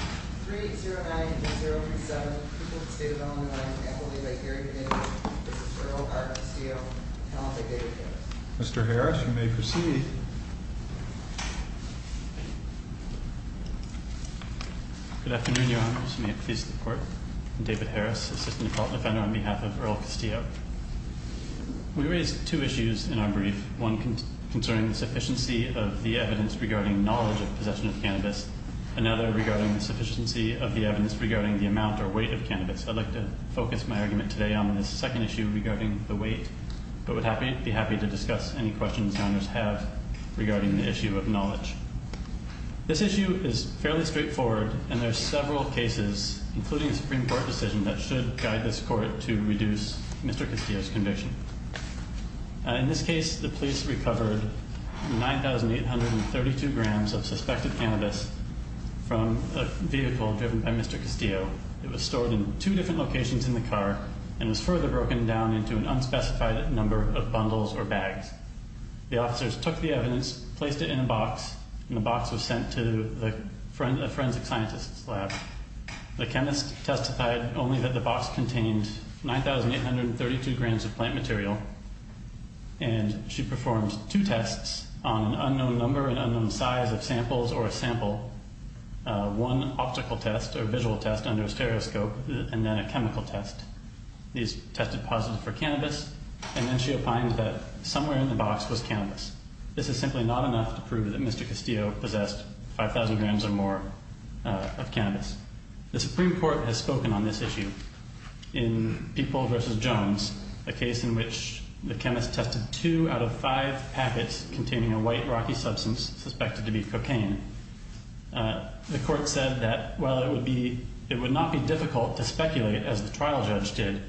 3-0-9-0-3-7, the people of the state of Illinois, and the faculty of Lake Erie Community, this is for Earl R. Castillo, and I'll take David Harris. Mr. Harris, you may proceed. Good afternoon, Your Honors. May it please the Court, I'm David Harris, Assistant Defender on behalf of Earl Castillo. We raise two issues in our brief, one concerning the sufficiency of the evidence regarding knowledge of possession of cannabis, another regarding the sufficiency of the evidence regarding the amount or weight of cannabis. I'd like to focus my argument today on this second issue regarding the weight, but would be happy to discuss any questions Your Honors have regarding the issue of knowledge. This issue is fairly straightforward, and there are several cases, including a Supreme Court decision, that should guide this Court to reduce Mr. Castillo's conviction. In this case, the police recovered 9,832 grams of suspected cannabis from a vehicle driven by Mr. Castillo. It was stored in two different locations in the car, and was further broken down into an unspecified number of bundles or bags. The officers took the evidence, placed it in a box, and the box was sent to a forensic scientist's lab. The chemist testified only that the box contained 9,832 grams of plant material, and she performed two tests on an unknown number, an unknown size of samples or a sample. One optical test or visual test under a stereoscope, and then a chemical test. These tested positive for cannabis, and then she opined that somewhere in the box was cannabis. This is simply not enough to prove that Mr. Castillo possessed 5,000 grams or more of cannabis. The Supreme Court has spoken on this issue in People v. Jones, a case in which the chemist tested two out of five packets containing a white, rocky substance suspected to be cocaine. The court said that while it would not be difficult to speculate, as the trial judge did,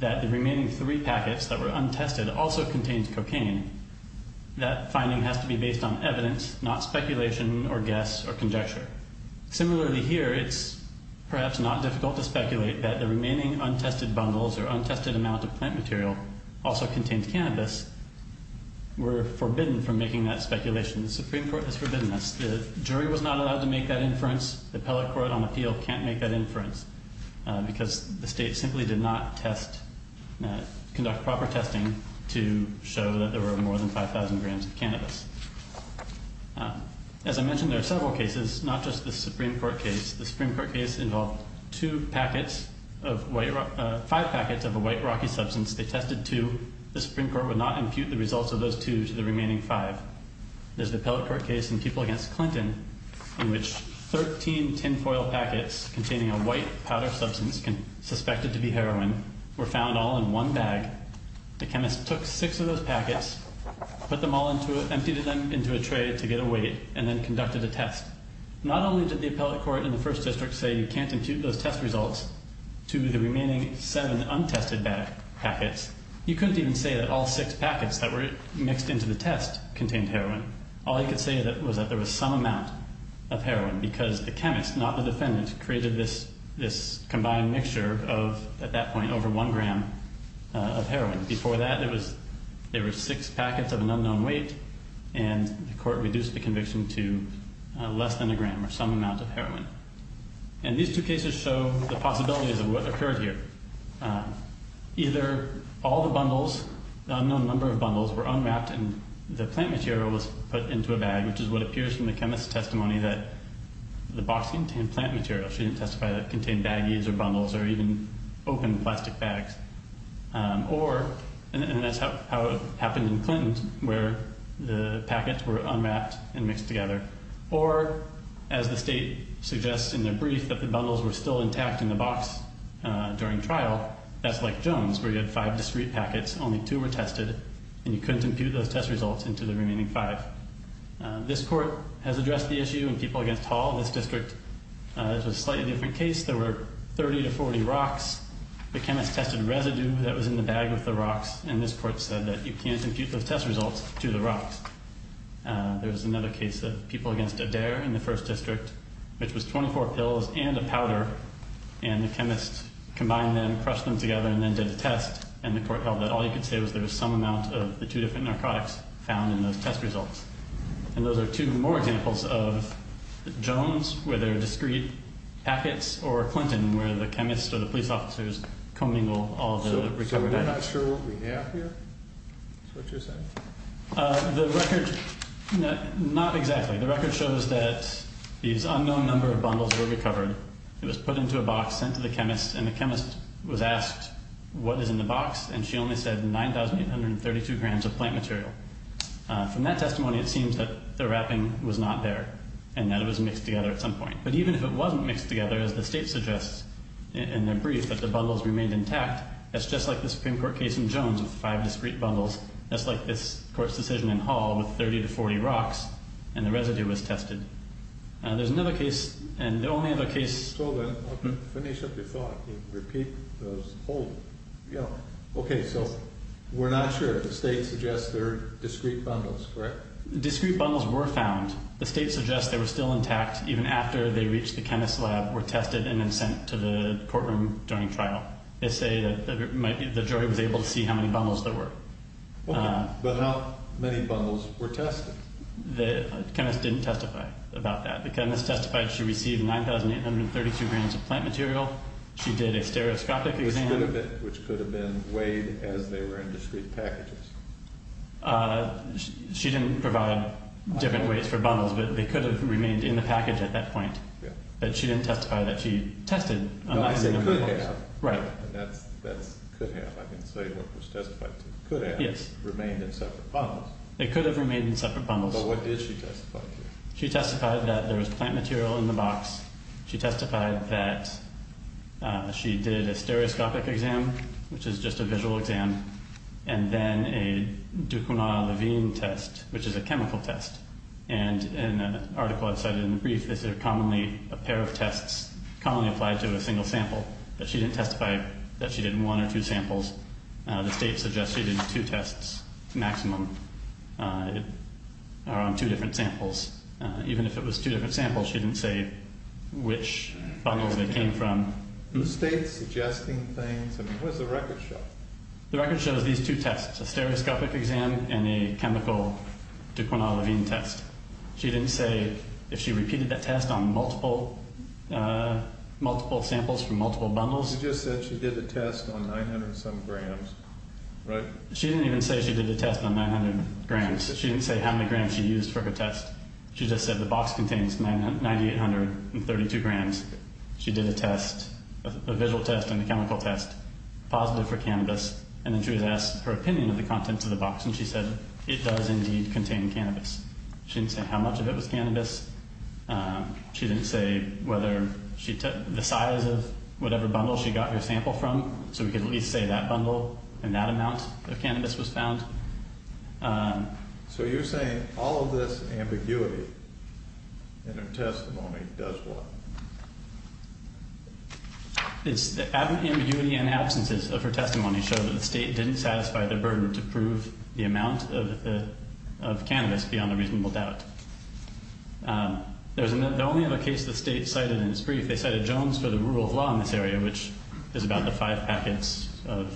that the remaining three packets that were untested also contained cocaine, that finding has to be based on evidence, not speculation or guess or conjecture. Similarly here, it's perhaps not difficult to speculate that the remaining untested bundles or untested amount of plant material also contained cannabis. We're forbidden from making that speculation. The Supreme Court has forbidden us. The jury was not allowed to make that inference. The appellate court on appeal can't make that inference because the state simply did not conduct proper testing to show that there were more than 5,000 grams of cannabis. As I mentioned, there are several cases, not just the Supreme Court case. The Supreme Court case involved five packets of a white, rocky substance. They tested two. The Supreme Court would not impute the results of those two to the remaining five. There's the appellate court case in People v. Clinton in which 13 tinfoil packets containing a white, powder substance suspected to be heroin were found all in one bag. The chemist took six of those packets, emptied them into a tray to get a weight, and then conducted a test. Not only did the appellate court in the first district say you can't impute those test results to the remaining seven untested packets, you couldn't even say that all six packets that were mixed into the test contained heroin. All you could say was that there was some amount of heroin because the chemist, not the defendant, created this combined mixture of, at that point, over one gram of heroin. Before that, there were six packets of an unknown weight, and the court reduced the conviction to less than a gram or some amount of heroin. These two cases show the possibilities of what occurred here. Either all the bundles, the unknown number of bundles, were unwrapped and the plant material was put into a bag, which is what appears from the chemist's testimony that the box contained plant material. She didn't testify that it contained baggies or bundles or even open plastic bags. Or, and that's how it happened in Clinton, where the packets were unwrapped and mixed together. Or, as the state suggests in their brief, that the bundles were still intact in the box during trial. That's like Jones, where you had five discrete packets, only two were tested, and you couldn't impute those test results into the remaining five. This court has addressed the issue in People Against Hall. This district, this was a slightly different case. There were 30 to 40 rocks. The chemist tested residue that was in the bag with the rocks, and this court said that you can't impute those test results to the rocks. There was another case of People Against Adair in the first district, which was 24 pills and a powder, and the chemist combined them, crushed them together, and then did a test, and the court held that all you could say was there was some amount of the two different narcotics found in those test results. And those are two more examples of Jones, where there are discrete packets, or Clinton, where the chemist or the police officers commingle all the recovered additives. So we're not sure what we have here? Is that what you're saying? The record, not exactly. The record shows that these unknown number of bundles were recovered. It was put into a box, sent to the chemist, and the chemist was asked what is in the box, and she only said 9,832 grams of plant material. From that testimony, it seems that the wrapping was not there, and that it was mixed together at some point. But even if it wasn't mixed together, as the state suggests in their brief, that the bundles remained intact, that's just like the Supreme Court case in Jones with five discrete bundles. That's like this court's decision in Hall with 30 to 40 rocks, and the residue was tested. There's another case, and the only other case— So then, finish up your thought and repeat those whole— Okay, so we're not sure. The state suggests they're discrete bundles, correct? Discrete bundles were found. The state suggests they were still intact even after they reached the chemist's lab, were tested, and then sent to the courtroom during trial. They say that the jury was able to see how many bundles there were. Okay, but how many bundles were tested? The chemist didn't testify about that. The chemist testified she received 9,832 grams of plant material. She did a stereoscopic exam. Which could have been weighed as they were in discrete packages. She didn't provide different weights for bundles, but they could have remained in the package at that point. But she didn't testify that she tested— No, I mean could have. Right. That's could have. I didn't say what was testified to. Could have remained in separate bundles. They could have remained in separate bundles. But what did she testify to? She testified that there was plant material in the box. She testified that she did a stereoscopic exam, which is just a visual exam, and then a Dukouna-Levine test, which is a chemical test. And in an article I cited in the brief, they said a pair of tests commonly applied to a single sample. But she didn't testify that she did one or two samples. The state suggests she did two tests maximum around two different samples. Even if it was two different samples, she didn't say which bundles they came from. The state's suggesting things—I mean, what does the record show? The record shows these two tests, a stereoscopic exam and a chemical Dukouna-Levine test. She didn't say if she repeated that test on multiple samples from multiple bundles. She just said she did the test on 900-some grams, right? She didn't even say she did the test on 900 grams. She didn't say how many grams she used for her test. She just said the box contains 9,832 grams. She did a test, a visual test and a chemical test, positive for cannabis, and then she was asked her opinion of the contents of the box, and she said it does indeed contain cannabis. She didn't say how much of it was cannabis. She didn't say whether she—the size of whatever bundle she got her sample from, so we could at least say that bundle and that amount of cannabis was found. So you're saying all of this ambiguity in her testimony does what? The ambiguity and absences of her testimony show that the state didn't satisfy their burden to prove the amount of cannabis beyond a reasonable doubt. The only other case the state cited in its brief, they cited Jones for the rule of law in this area, which is about the five packets of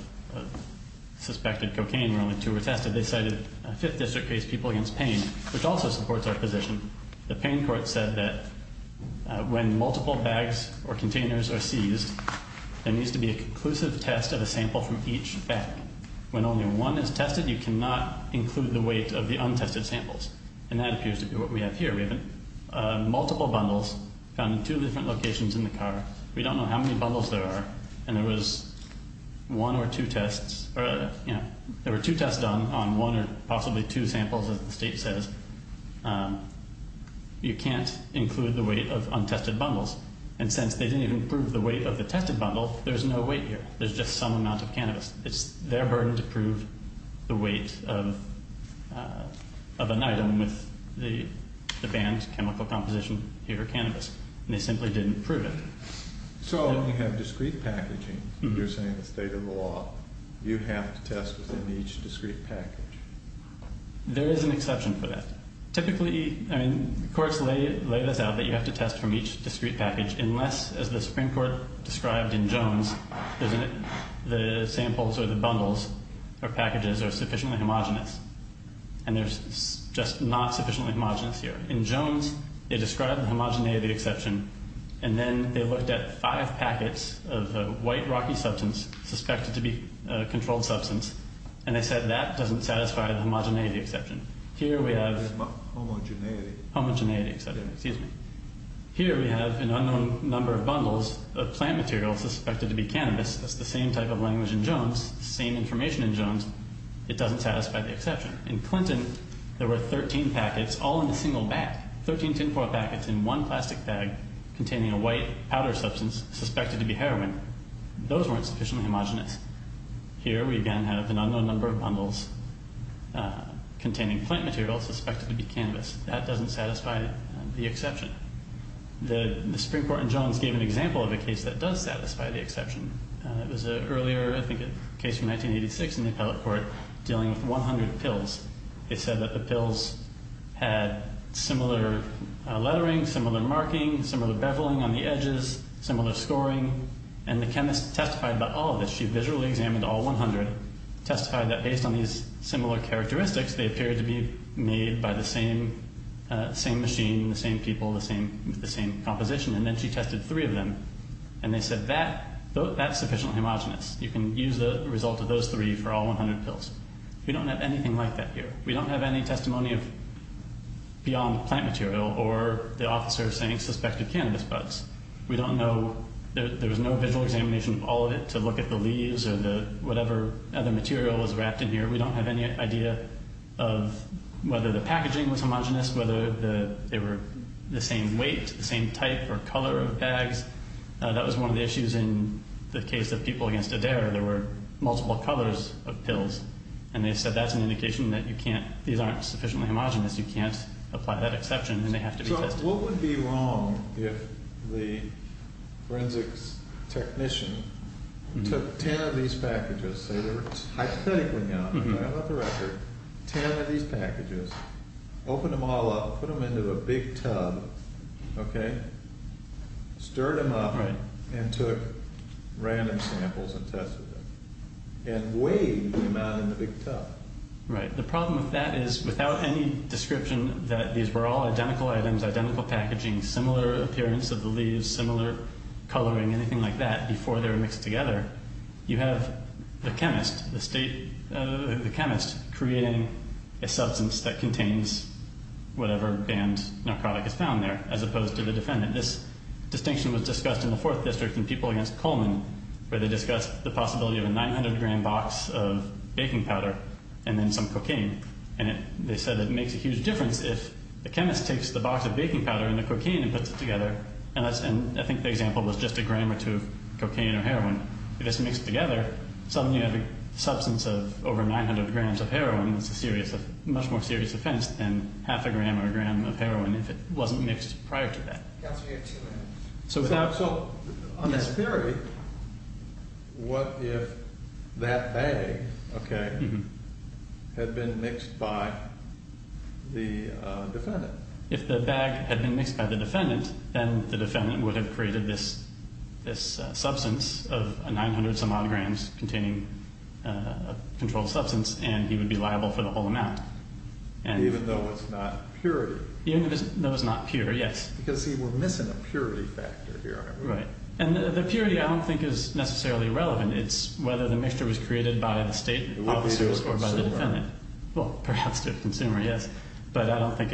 suspected cocaine where only two were tested. They cited a Fifth District case, People Against Pain, which also supports our position. The pain court said that when multiple bags or containers are seized, there needs to be a conclusive test of a sample from each bag. When only one is tested, you cannot include the weight of the untested samples, and that appears to be what we have here. We have multiple bundles found in two different locations in the car. We don't know how many bundles there are, and there was one or two tests— there were two tests done on one or possibly two samples, as the state says. You can't include the weight of untested bundles, and since they didn't even prove the weight of the tested bundle, there's no weight here. There's just some amount of cannabis. It's their burden to prove the weight of an item with the banned chemical composition here, cannabis, and they simply didn't prove it. So you have discrete packaging. You're saying it's state of the law. You have to test within each discrete package. There is an exception for that. Typically, courts lay this out that you have to test from each discrete package unless, as the Supreme Court described in Jones, the samples or the bundles or packages are sufficiently homogenous, and there's just not sufficiently homogenous here. In Jones, they described the homogeneity exception, and then they looked at five packets of a white, rocky substance, suspected to be a controlled substance, and they said that doesn't satisfy the homogeneity exception. Here we have— Homogeneity. Homogeneity exception, excuse me. Here we have an unknown number of bundles of plant material suspected to be cannabis. That's the same type of language in Jones, same information in Jones. It doesn't satisfy the exception. In Clinton, there were 13 packets all in a single bag, 13 tinfoil packets in one plastic bag containing a white powder substance suspected to be heroin. Those weren't sufficiently homogenous. Here we again have an unknown number of bundles containing plant material suspected to be cannabis. That doesn't satisfy the exception. The Supreme Court in Jones gave an example of a case that does satisfy the exception. It was an earlier case from 1986 in the appellate court dealing with 100 pills. It said that the pills had similar lettering, similar marking, similar beveling on the edges, similar scoring, and the chemist testified about all of this. She visually examined all 100, testified that based on these similar characteristics, they appeared to be made by the same machine, the same people, the same composition, and then she tested three of them. And they said that's sufficiently homogenous. You can use the result of those three for all 100 pills. We don't have anything like that here. We don't have any testimony beyond plant material or the officer saying suspected cannabis buds. We don't know. There was no visual examination of all of it to look at the leaves or whatever other material was wrapped in here. We don't have any idea of whether the packaging was homogenous, whether they were the same weight, the same type or color of bags. That was one of the issues in the case of people against Adair. There were multiple colors of pills, and they said that's an indication that you can't, these aren't sufficiently homogenous, you can't apply that exception, and they have to be tested. So what would be wrong if the forensics technician took 10 of these packages, hypothetically now, I'm going off the record, 10 of these packages, opened them all up, put them into a big tub, okay, stirred them up, and took random samples and tested them, and weighed the amount in the big tub? Right. The problem with that is without any description that these were all identical items, identical packaging, similar appearance of the leaves, similar coloring, anything like that, before they were mixed together, you have the chemist, the state chemist, creating a substance that contains whatever banned narcotic is found there, as opposed to the defendant. This distinction was discussed in the Fourth District in people against Coleman, where they discussed the possibility of a 900-gram box of baking powder and then some cocaine. And they said it makes a huge difference if the chemist takes the box of baking powder and the cocaine and puts it together, and I think the example was just a gram or two of cocaine or heroin. If it's mixed together, suddenly you have a substance of over 900 grams of heroin. It's a much more serious offense than half a gram or a gram of heroin if it wasn't mixed prior to that. Counsel, you have two minutes. So on this theory, what if that bag, okay, had been mixed by the defendant? If the bag had been mixed by the defendant, then the defendant would have created this substance of 900-some-odd grams containing a controlled substance, and he would be liable for the whole amount. Even though it's not purity. Even though it's not pure, yes. Because we're missing a purity factor here. Right, and the purity I don't think is necessarily relevant. It's whether the mixture was created by the state or by the defendant. It would be to a consumer. But I don't think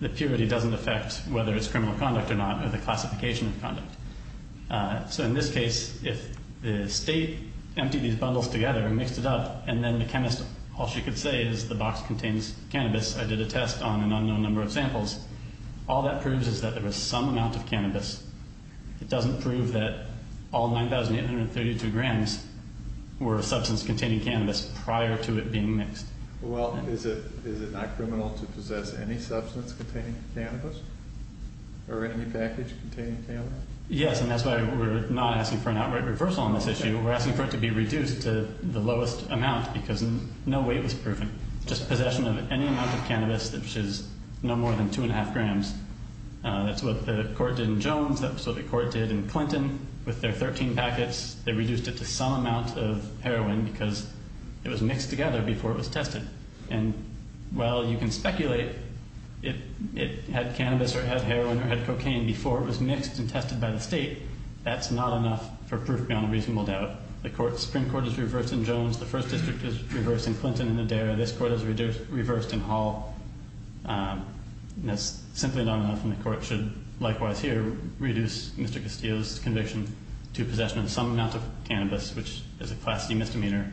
the purity doesn't affect whether it's criminal conduct or not or the classification of conduct. So in this case, if the state emptied these bundles together and mixed it up, and then the chemist, all she could say is the box contains cannabis. I did a test on an unknown number of samples. All that proves is that there was some amount of cannabis. It doesn't prove that all 9,832 grams were a substance containing cannabis prior to it being mixed. Well, is it not criminal to possess any substance containing cannabis or any package containing cannabis? Yes, and that's why we're not asking for an outright reversal on this issue. We're asking for it to be reduced to the lowest amount because no weight was proven. Just possession of any amount of cannabis that was no more than 2 1⁄2 grams. That's what the court did in Jones. That's what the court did in Clinton with their 13 packets. They reduced it to some amount of heroin because it was mixed together before it was tested. And while you can speculate it had cannabis or it had heroin or it had cocaine before it was mixed and tested by the state, that's not enough for proof beyond a reasonable doubt. The Supreme Court is reversed in Jones. The First District is reversed in Clinton and Adair. This court is reversed in Hall. That's simply not enough, and the court should likewise here reduce Mr. Castillo's conviction to possession of some amount of cannabis, which is a class C misdemeanor.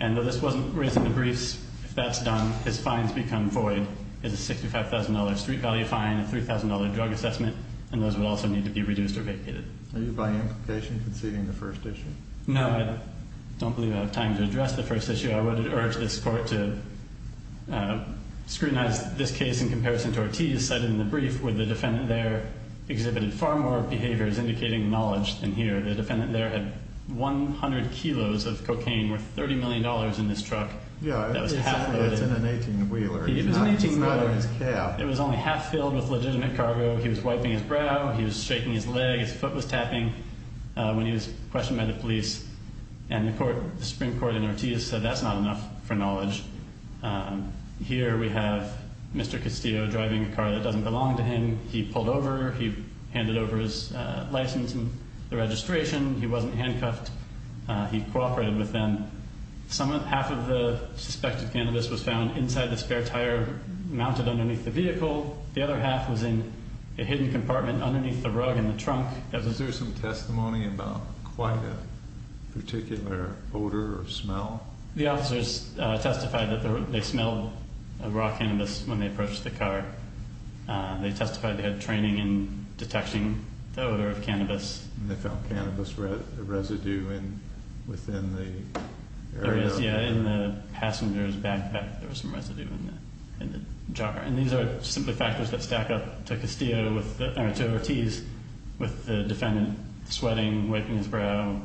And though this wasn't raised in the briefs, if that's done, his fines become void. It's a $65,000 street value fine, a $3,000 drug assessment, and those would also need to be reduced or vacated. Are you, by implication, conceding the first issue? No, I don't believe I have time to address the first issue. I would urge this court to scrutinize this case in comparison to Ortiz cited in the brief, where the defendant there exhibited far more behaviors indicating knowledge than here. The defendant there had 100 kilos of cocaine worth $30 million in his truck that was half loaded. It's in an 18-wheeler. It was an 18-wheeler. It's not in his cab. It was only half filled with legitimate cargo. He was wiping his brow. He was shaking his leg. His foot was tapping when he was questioned by the police. And the Supreme Court in Ortiz said that's not enough for knowledge. Here we have Mr. Castillo driving a car that doesn't belong to him. He pulled over. He handed over his license and the registration. He wasn't handcuffed. He cooperated with them. Half of the suspected cannabis was found inside the spare tire mounted underneath the vehicle. The other half was in a hidden compartment underneath the rug in the trunk. Is there some testimony about quite a particular odor or smell? The officers testified that they smelled raw cannabis when they approached the car. They testified they had training in detecting the odor of cannabis. And they found cannabis residue within the area. There is, yeah, in the passenger's backpack. There was some residue in the jar. And these are simply factors that stack up to Ortiz with the defendant sweating, wiping his brow,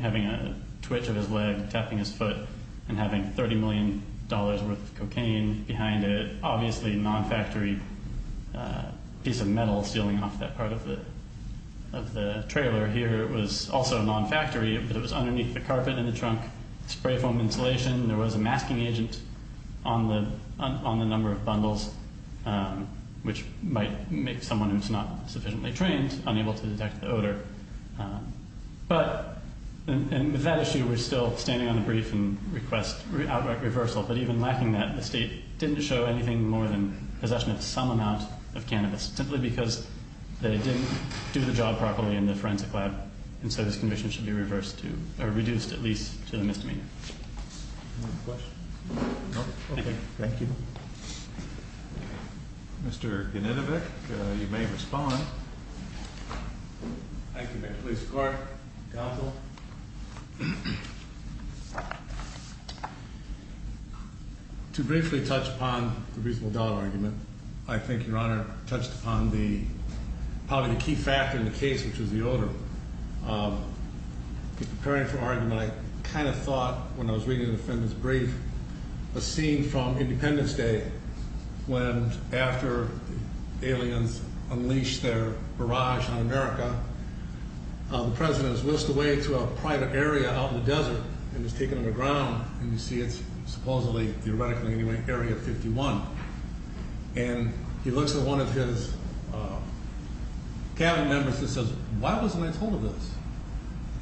having a twitch of his leg, tapping his foot, and having $30 million worth of cocaine behind it. Obviously a non-factory piece of metal sealing off that part of the trailer. Here it was also non-factory, but it was underneath the carpet in the trunk. Spray foam insulation. There was a masking agent on the number of bundles, which might make someone who's not sufficiently trained unable to detect the odor. But with that issue, we're still standing on the brief and request outright reversal. But even lacking that, the state didn't show anything more than possession of some amount of cannabis simply because they didn't do the job properly in the forensic lab. And so this commission should be reduced at least to the misdemeanor. Any other questions? No? Okay, thank you. Mr. Yaninovic, you may respond. Thank you, Mr. Police Corp. Counsel. To briefly touch upon the reasonable doubt argument, and I think Your Honor touched upon probably the key factor in the case, which is the odor. In preparing for argument, I kind of thought when I was reading the defendant's brief, a scene from Independence Day, when after aliens unleash their barrage on America, the President is whisked away to a private area out in the desert, and is taken underground, and you see it's supposedly, theoretically anyway, Area 51. And he looks at one of his cabinet members and says, why wasn't I told of this?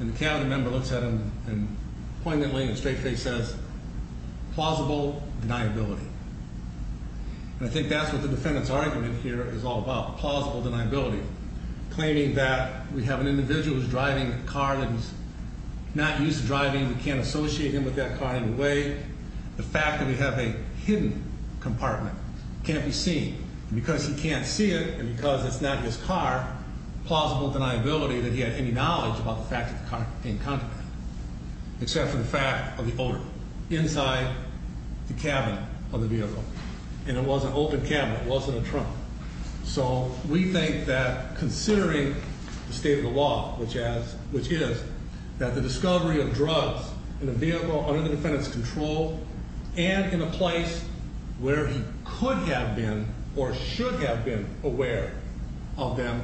And the cabinet member looks at him and poignantly in a straight face says, plausible deniability. And I think that's what the defendant's argument here is all about, plausible deniability. Claiming that we have an individual who's driving a car that he's not used to driving, we can't associate him with that car in a way. The fact that we have a hidden compartment can't be seen. And because he can't see it, and because it's not his car, plausible deniability that he had any knowledge about the fact that the car came in contact with it. Except for the fact of the odor inside the cabinet of the vehicle. And it was an open cabinet, it wasn't a trunk. So we think that considering the state of the law, which is, that the discovery of drugs in a vehicle under the defendant's control, and in a place where he could have been or should have been aware of them,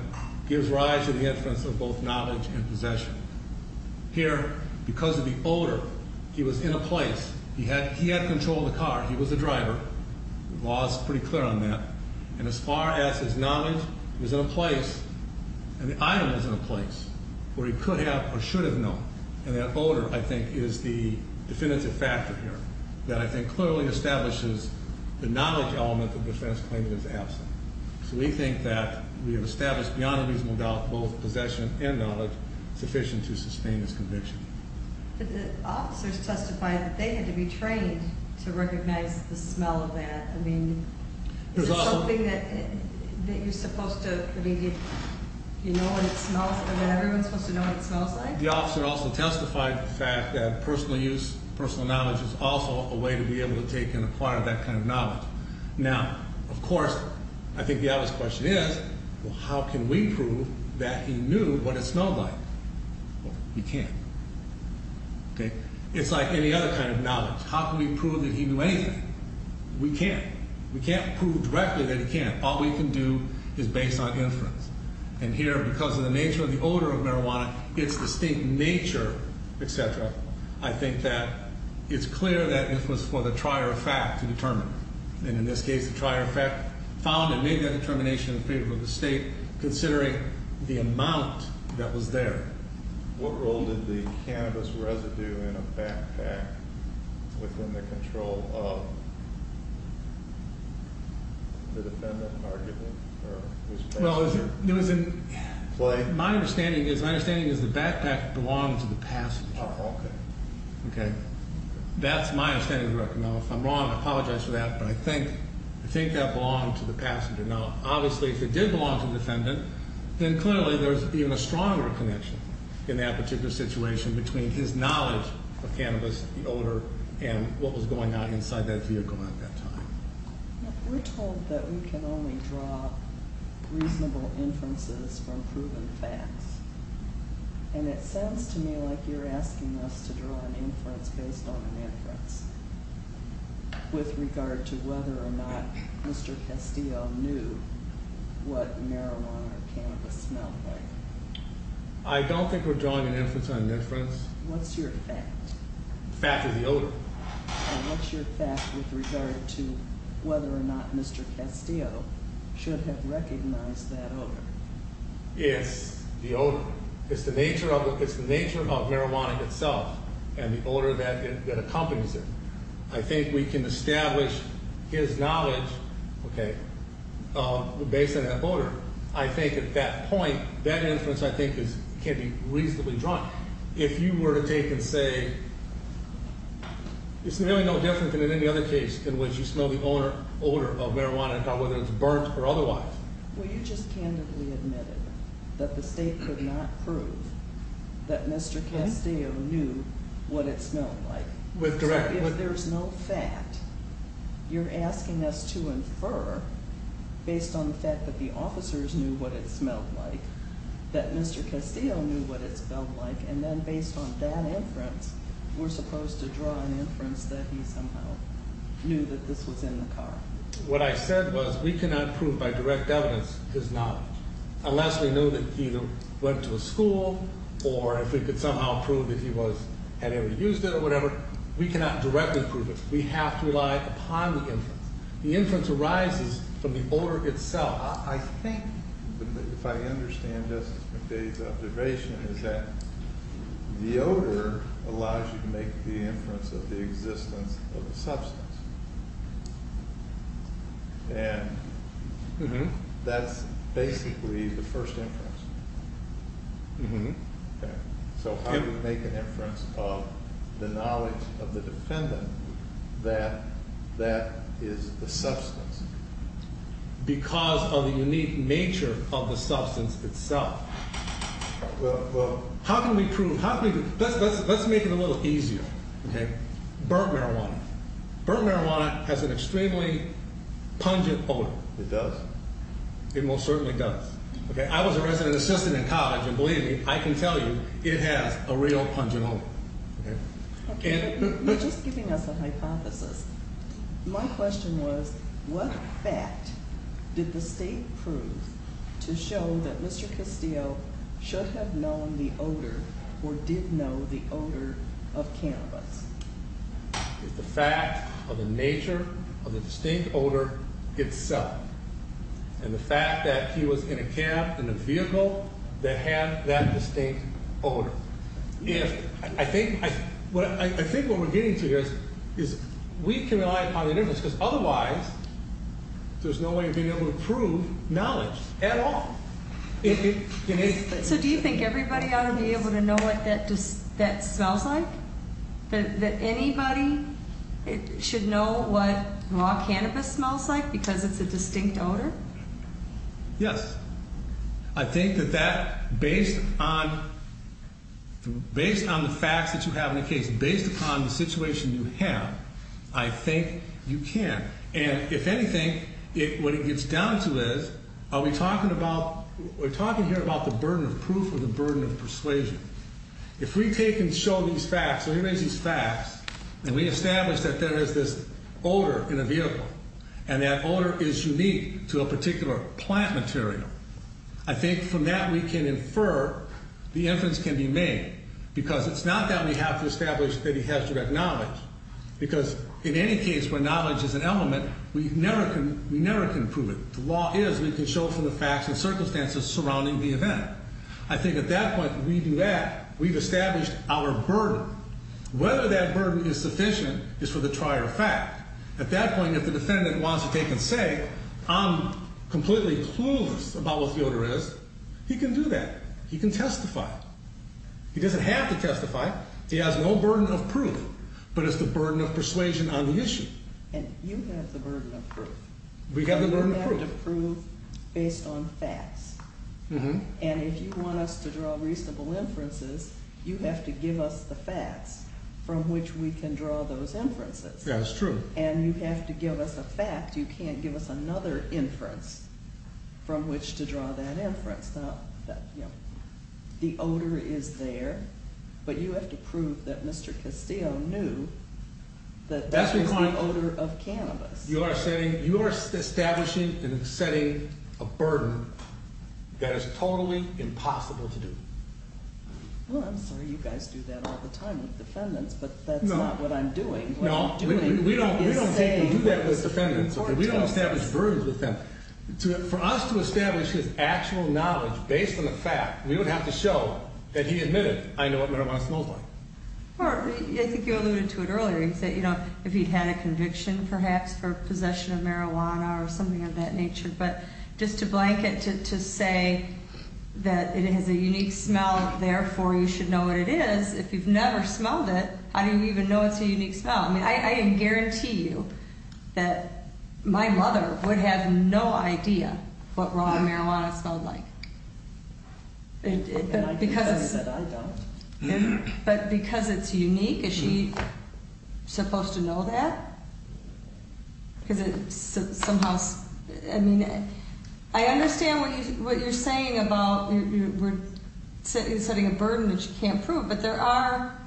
gives rise to the inference of both knowledge and possession. Here, because of the odor, he was in a place, he had control of the car, he was a driver. The law is pretty clear on that. And as far as his knowledge, he was in a place, and the item was in a place, where he could have or should have known. And that odor, I think, is the definitive factor here, that I think clearly establishes the knowledge element that the defense claims is absent. So we think that we have established beyond a reasonable doubt, both possession and knowledge sufficient to sustain this conviction. But the officers testified that they had to be trained to recognize the smell of that. I mean, is it something that you're supposed to, I mean, do you know what it smells, is everyone supposed to know what it smells like? The officer also testified the fact that personal use, personal knowledge, is also a way to be able to take and acquire that kind of knowledge. Now, of course, I think the obvious question is, well, how can we prove that he knew what it smelled like? Well, we can't. Okay? It's like any other kind of knowledge. How can we prove that he knew anything? We can't. We can't prove directly that he can't. All we can do is based on inference. And here, because of the nature of the odor of marijuana, its distinct nature, et cetera, I think that it's clear that it was for the trier of fact to determine. And in this case, the trier of fact found and made that determination in favor of the state, considering the amount that was there. What role did the cannabis residue in a backpack within the control of the defendant, arguably? Well, my understanding is the backpack belonged to the passenger. Oh, okay. Okay? That's my understanding of the record. Now, if I'm wrong, I apologize for that, but I think that belonged to the passenger. Now, obviously, if it did belong to the defendant, then clearly there's even a stronger connection in that particular situation between his knowledge of cannabis, the odor, and what was going on inside that vehicle at that time. We're told that we can only draw reasonable inferences from proven facts. And it sounds to me like you're asking us to draw an inference based on an inference with regard to whether or not Mr. Castillo knew what marijuana or cannabis smelled like. I don't think we're drawing an inference on an inference. What's your fact? The fact is the odor. And what's your fact with regard to whether or not Mr. Castillo should have recognized that odor? Yes, the odor. It's the nature of marijuana itself and the odor that accompanies it. I think we can establish his knowledge, okay, based on that odor. I think at that point, that inference, I think, can be reasonably drawn. If you were to take and say, it's really no different than in any other case in which you smell the odor of marijuana, whether it's burnt or otherwise. Well, you just candidly admitted that the state could not prove that Mr. Castillo knew what it smelled like. So if there's no fact, you're asking us to infer based on the fact that the officers knew what it smelled like, that Mr. Castillo knew what it smelled like, and then based on that inference, we're supposed to draw an inference that he somehow knew that this was in the car. What I said was we cannot prove by direct evidence his knowledge. Unless we knew that he went to a school or if we could somehow prove that he had ever used it or whatever, we cannot directly prove it. We have to rely upon the inference. The inference arises from the odor itself. I think, if I understand Justice McDade's observation, is that the odor allows you to make the inference of the existence of a substance. And that's basically the first inference. So how do you make an inference of the knowledge of the defendant that that is the substance? Because of the unique nature of the substance itself. Well, how can we prove? Let's make it a little easier. Burnt marijuana. Burnt marijuana has an extremely pungent odor. It does? It most certainly does. I was a resident assistant in college, and believe me, I can tell you it has a real pungent odor. You're just giving us a hypothesis. My question was, what fact did the state prove to show that Mr. Castillo should have known the odor or did know the odor of cannabis? It's the fact of the nature of the distinct odor itself. And the fact that he was in a cab, in a vehicle, that had that distinct odor. I think what we're getting to here is we can rely on inference, because otherwise there's no way of being able to prove knowledge at all. So do you think everybody ought to be able to know what that smells like? That anybody should know what raw cannabis smells like because it's a distinct odor? Yes. I think that based on the facts that you have in the case, based upon the situation you have, I think you can. And if anything, what it gets down to is, are we talking here about the burden of proof or the burden of persuasion? If we take and show these facts, and we establish that there is this odor in a vehicle, and that odor is unique to a particular plant material, I think from that we can infer the inference can be made. Because it's not that we have to establish that he has direct knowledge. Because in any case where knowledge is an element, we never can prove it. The law is we can show from the facts and circumstances surrounding the event. I think at that point when we do that, we've established our burden. Whether that burden is sufficient is for the trier of fact. At that point, if the defendant wants to take and say, I'm completely clueless about what the odor is, he can do that. He can testify. He doesn't have to testify. He has no burden of proof, but it's the burden of persuasion on the issue. And you have the burden of proof. We have the burden of proof. Based on facts. And if you want us to draw reasonable inferences, you have to give us the facts from which we can draw those inferences. Yeah, that's true. And you have to give us a fact. You can't give us another inference from which to draw that inference. Now, the odor is there, but you have to prove that Mr. Castillo knew that that's the kind of odor of cannabis. You are establishing and setting a burden that is totally impossible to do. Well, I'm sorry you guys do that all the time with defendants, but that's not what I'm doing. No, we don't take and do that with defendants. We don't establish burdens with them. For us to establish his actual knowledge based on a fact, we would have to show that he admitted, I know what marijuana smells like. I think you alluded to it earlier. If he had a conviction, perhaps, for possession of marijuana or something of that nature. But just to blanket, to say that it has a unique smell, therefore, you should know what it is. If you've never smelled it, how do you even know it's a unique smell? I guarantee you that my mother would have no idea what raw marijuana smelled like. And I can tell you that I don't. But because it's unique, is she supposed to know that? I understand what you're saying about setting a burden that you can't prove. But there are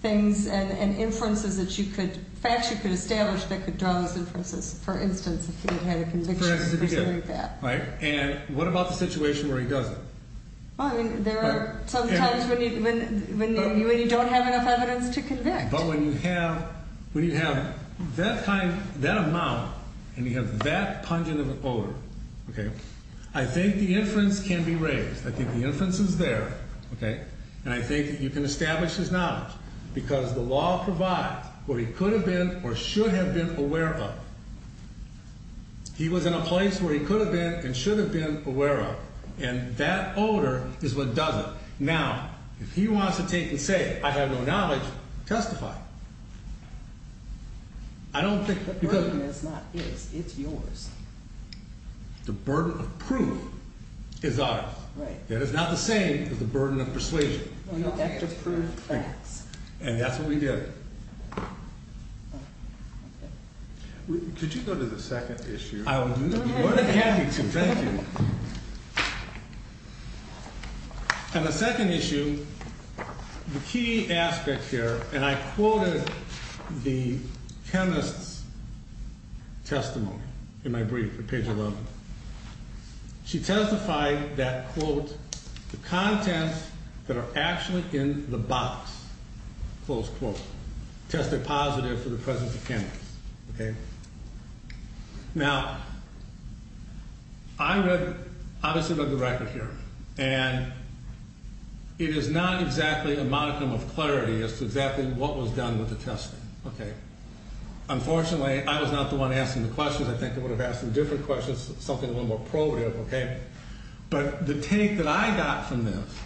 things and inferences that you could, facts you could establish that could draw those inferences. For instance, if he had a conviction for something like that. And what about the situation where he doesn't? Well, I mean, there are some times when you don't have enough evidence to convict. But when you have that amount and you have that pungent of an odor, I think the inference can be raised. I think the inference is there. And I think that you can establish his knowledge because the law provides what he could have been or should have been aware of. He was in a place where he could have been and should have been aware of. And that odor is what does it. Now, if he wants to take and say, I have no knowledge, testify. I don't think... The burden is not his, it's yours. The burden of proof is ours. That is not the same as the burden of persuasion. Well, you have to prove facts. And that's what we did. Could you go to the second issue? I would be more than happy to, thank you. And the second issue, the key aspect here, and I quoted the chemist's testimony in my brief at page 11. She testified that, quote, the contents that are actually in the box, close quote, tested positive for the presence of chemicals. Okay? Now, I read, obviously read the record here. And it is not exactly a modicum of clarity as to exactly what was done with the testing. Okay? Unfortunately, I was not the one asking the questions. I think I would have asked some different questions, something a little more probative, okay? But the take that I got from this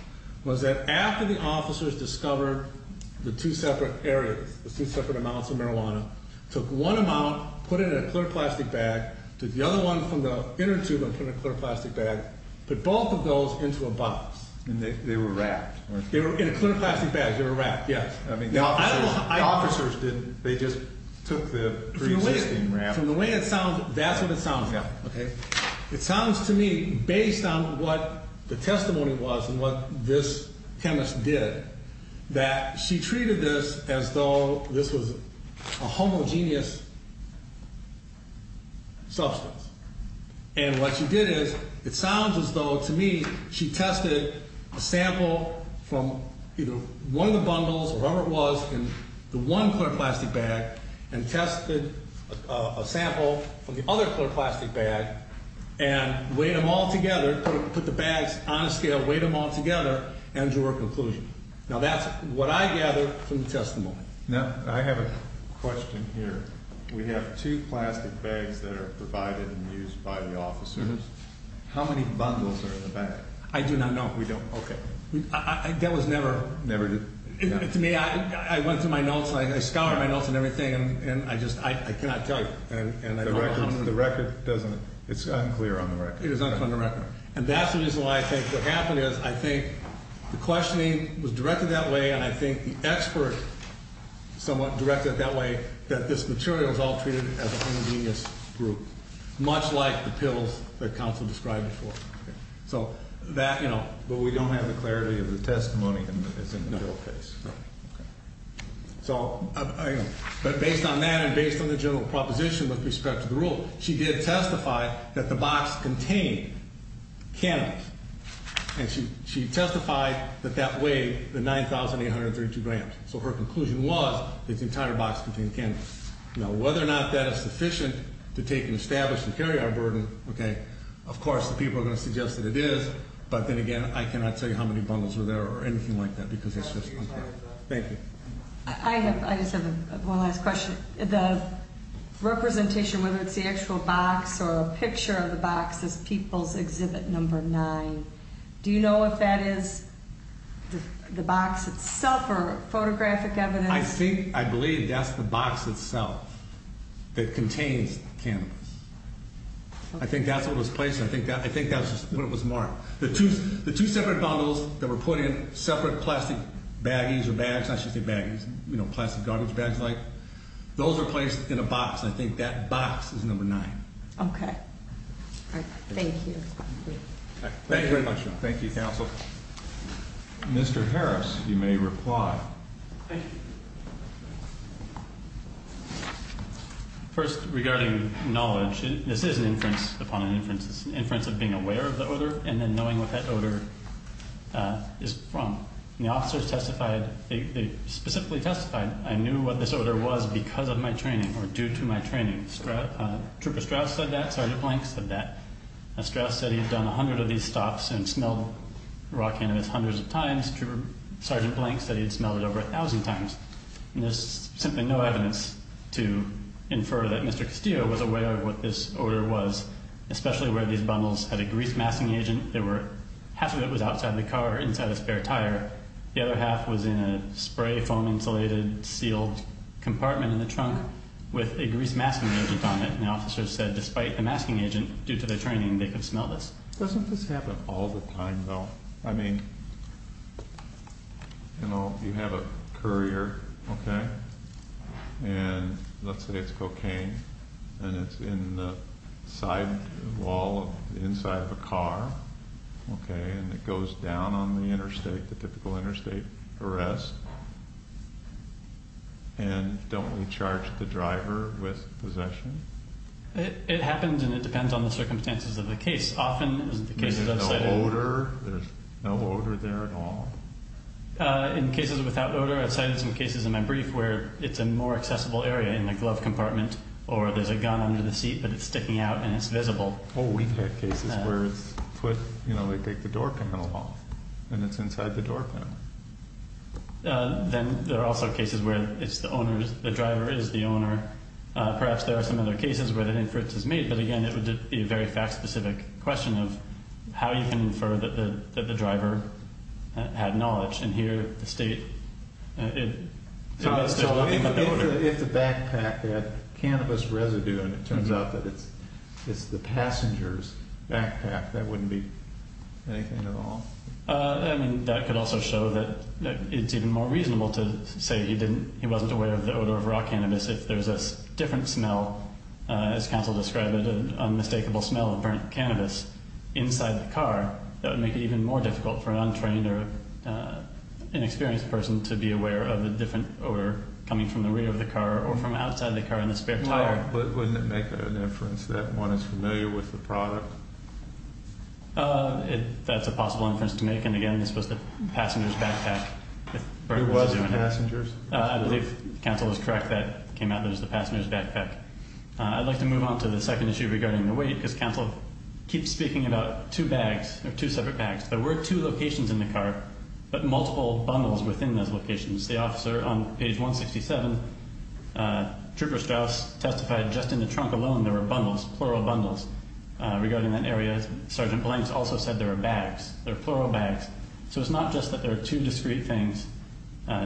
was that after the officers discovered the two separate areas, the two separate amounts of marijuana, took one amount, put it in a clear plastic bag, took the other one from the inner tube and put it in a clear plastic bag, put both of those into a box. And they were wrapped, weren't they? They were in a clear plastic bag. They were wrapped, yes. I mean, the officers didn't. They just took the pre-existing wrap. From the way it sounds, that's what it sounds like. Yeah. Okay? It sounds to me, based on what the testimony was and what this chemist did, that she treated this as though this was a homogeneous substance. And what she did is, it sounds as though, to me, she tested a sample from either one of the bundles or whatever it was in the one clear plastic bag and tested a sample from the other clear plastic bag and weighed them all together, put the bags on a scale, weighed them all together, and drew a conclusion. Now, that's what I gather from the testimony. Now, I have a question here. We have two plastic bags that are provided and used by the officers. How many bundles are in the bag? I do not know. We don't. Okay. That was never. Never? To me, I went through my notes. I scoured my notes and everything, and I just, I cannot tell you. And I don't know how many. The record doesn't, it's unclear on the record. It is unclear on the record. And that's the reason why I think what happened is I think the questioning was directed that way, and I think the expert somewhat directed it that way, that this material is all treated as a homogeneous group, much like the pills that counsel described before. Okay. So, that, you know, but we don't have the clarity of the testimony that's in the bill case. No. Okay. So, but based on that and based on the general proposition with respect to the rule, she did testify that the box contained. Cannabis. And she testified that that weighed the 9,832 grams. So, her conclusion was that the entire box contained cannabis. Now, whether or not that is sufficient to take and establish the carry-on burden, okay, of course, the people are going to suggest that it is. But then again, I cannot tell you how many bundles were there or anything like that because that's just unclear. Thank you. I just have one last question. The representation, whether it's the actual box or a picture of the box, is People's Exhibit No. 9. Do you know if that is the box itself or photographic evidence? I think, I believe that's the box itself that contains cannabis. Okay. I think that's what was placed. I think that's what was marked. The two separate bundles that were put in separate plastic baggies or bags, I should say baggies, you know, plastic garbage bags like, those were placed in a box. I think that box is No. 9. Okay. All right. Thank you. Thank you very much. Thank you, counsel. Mr. Harris, you may reply. Thank you. First, regarding knowledge, this is an inference upon an inference. It's an inference of being aware of the odor and then knowing what that odor is from. And the officers testified, they specifically testified, I knew what this odor was because of my training or due to my training. Trooper Strauss said that. Sergeant Blank said that. Strauss said he had done 100 of these stops and smelled raw cannabis hundreds of times. Trooper Sergeant Blank said he had smelled it over 1,000 times. And there's simply no evidence to infer that Mr. Castillo was aware of what this odor was, especially where these bundles had a grease masking agent. Half of it was outside the car or inside a spare tire. The other half was in a spray foam insulated sealed compartment in the trunk with a grease masking agent on it. And officers said despite the masking agent, due to their training, they could smell this. Doesn't this happen all the time, though? I mean, you know, you have a courier, OK? And let's say it's cocaine, and it's in the side wall inside of a car, OK? And it goes down on the interstate, the typical interstate arrest. And don't we charge the driver with possession? It happens, and it depends on the circumstances of the case. But there's no odor? There's no odor there at all? In cases without odor, I've cited some cases in my brief where it's a more accessible area in the glove compartment, or there's a gun under the seat, but it's sticking out and it's visible. Oh, we've had cases where it's put, you know, they take the door panel off, and it's inside the door panel. Then there are also cases where it's the owner's, the driver is the owner. Perhaps there are some other cases where that inference is made, but, again, it would be a very fact-specific question of how you can infer that the driver had knowledge. And here, the state, it's still looking for the odor. So if the backpack had cannabis residue, and it turns out that it's the passenger's backpack, that wouldn't be anything at all? I mean, that could also show that it's even more reasonable to say he wasn't aware of the odor of raw cannabis. If there's a different smell, as counsel described it, an unmistakable smell of burnt cannabis inside the car, that would make it even more difficult for an untrained or inexperienced person to be aware of a different odor coming from the rear of the car or from outside the car in the spare tire. Right, but wouldn't it make an inference that one is familiar with the product? That's a possible inference to make. And, again, this was the passenger's backpack. It was the passenger's? I believe counsel is correct. That came out that it was the passenger's backpack. I'd like to move on to the second issue regarding the weight, because counsel keeps speaking about two bags or two separate bags. There were two locations in the car, but multiple bundles within those locations. The officer on page 167, Trooper Strauss, testified just in the trunk alone there were bundles, plural bundles, regarding that area. Sergeant Blanks also said there were bags, plural bags. So it's not just that there are two discrete things,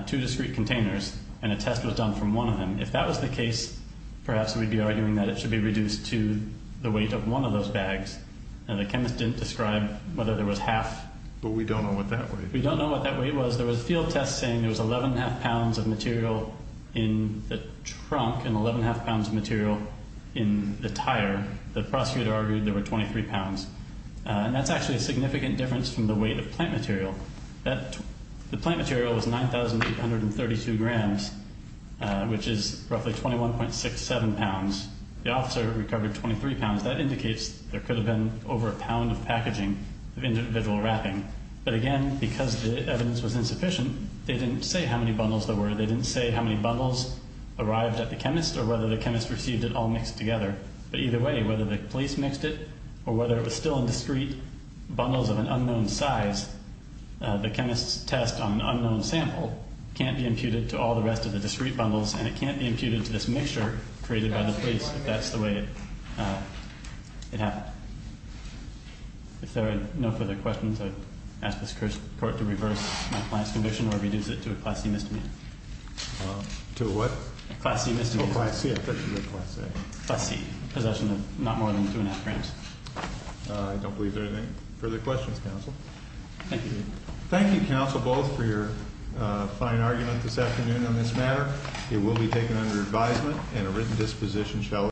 two discrete containers, and a test was done from one of them. If that was the case, perhaps we'd be arguing that it should be reduced to the weight of one of those bags. The chemist didn't describe whether there was half. But we don't know what that weight was. There was a field test saying there was 11 1⁄2 pounds of material in the trunk and 11 1⁄2 pounds of material in the tire. The prosecutor argued there were 23 pounds. And that's actually a significant difference from the weight of plant material. The plant material was 9,832 grams, which is roughly 21.67 pounds. The officer recovered 23 pounds. That indicates there could have been over a pound of packaging of individual wrapping. But, again, because the evidence was insufficient, they didn't say how many bundles there were. They didn't say how many bundles arrived at the chemist or whether the chemist received it all mixed together. But either way, whether the police mixed it or whether it was still in discrete bundles of an unknown size, the chemist's test on an unknown sample can't be imputed to all the rest of the discrete bundles, and it can't be imputed to this mixture created by the police if that's the way it happened. If there are no further questions, I ask this court to reverse my client's conviction or reduce it to a Class C misdemeanor. To a what? Class C misdemeanor. Oh, Class C. I thought you said Class A. Class C. Possession of not more than 2 1⁄2 grams. I don't believe there are any further questions, counsel. Thank you. Thank you, counsel, both, for your fine argument this afternoon on this matter. It will be taken under advisement, and a written disposition shall occur.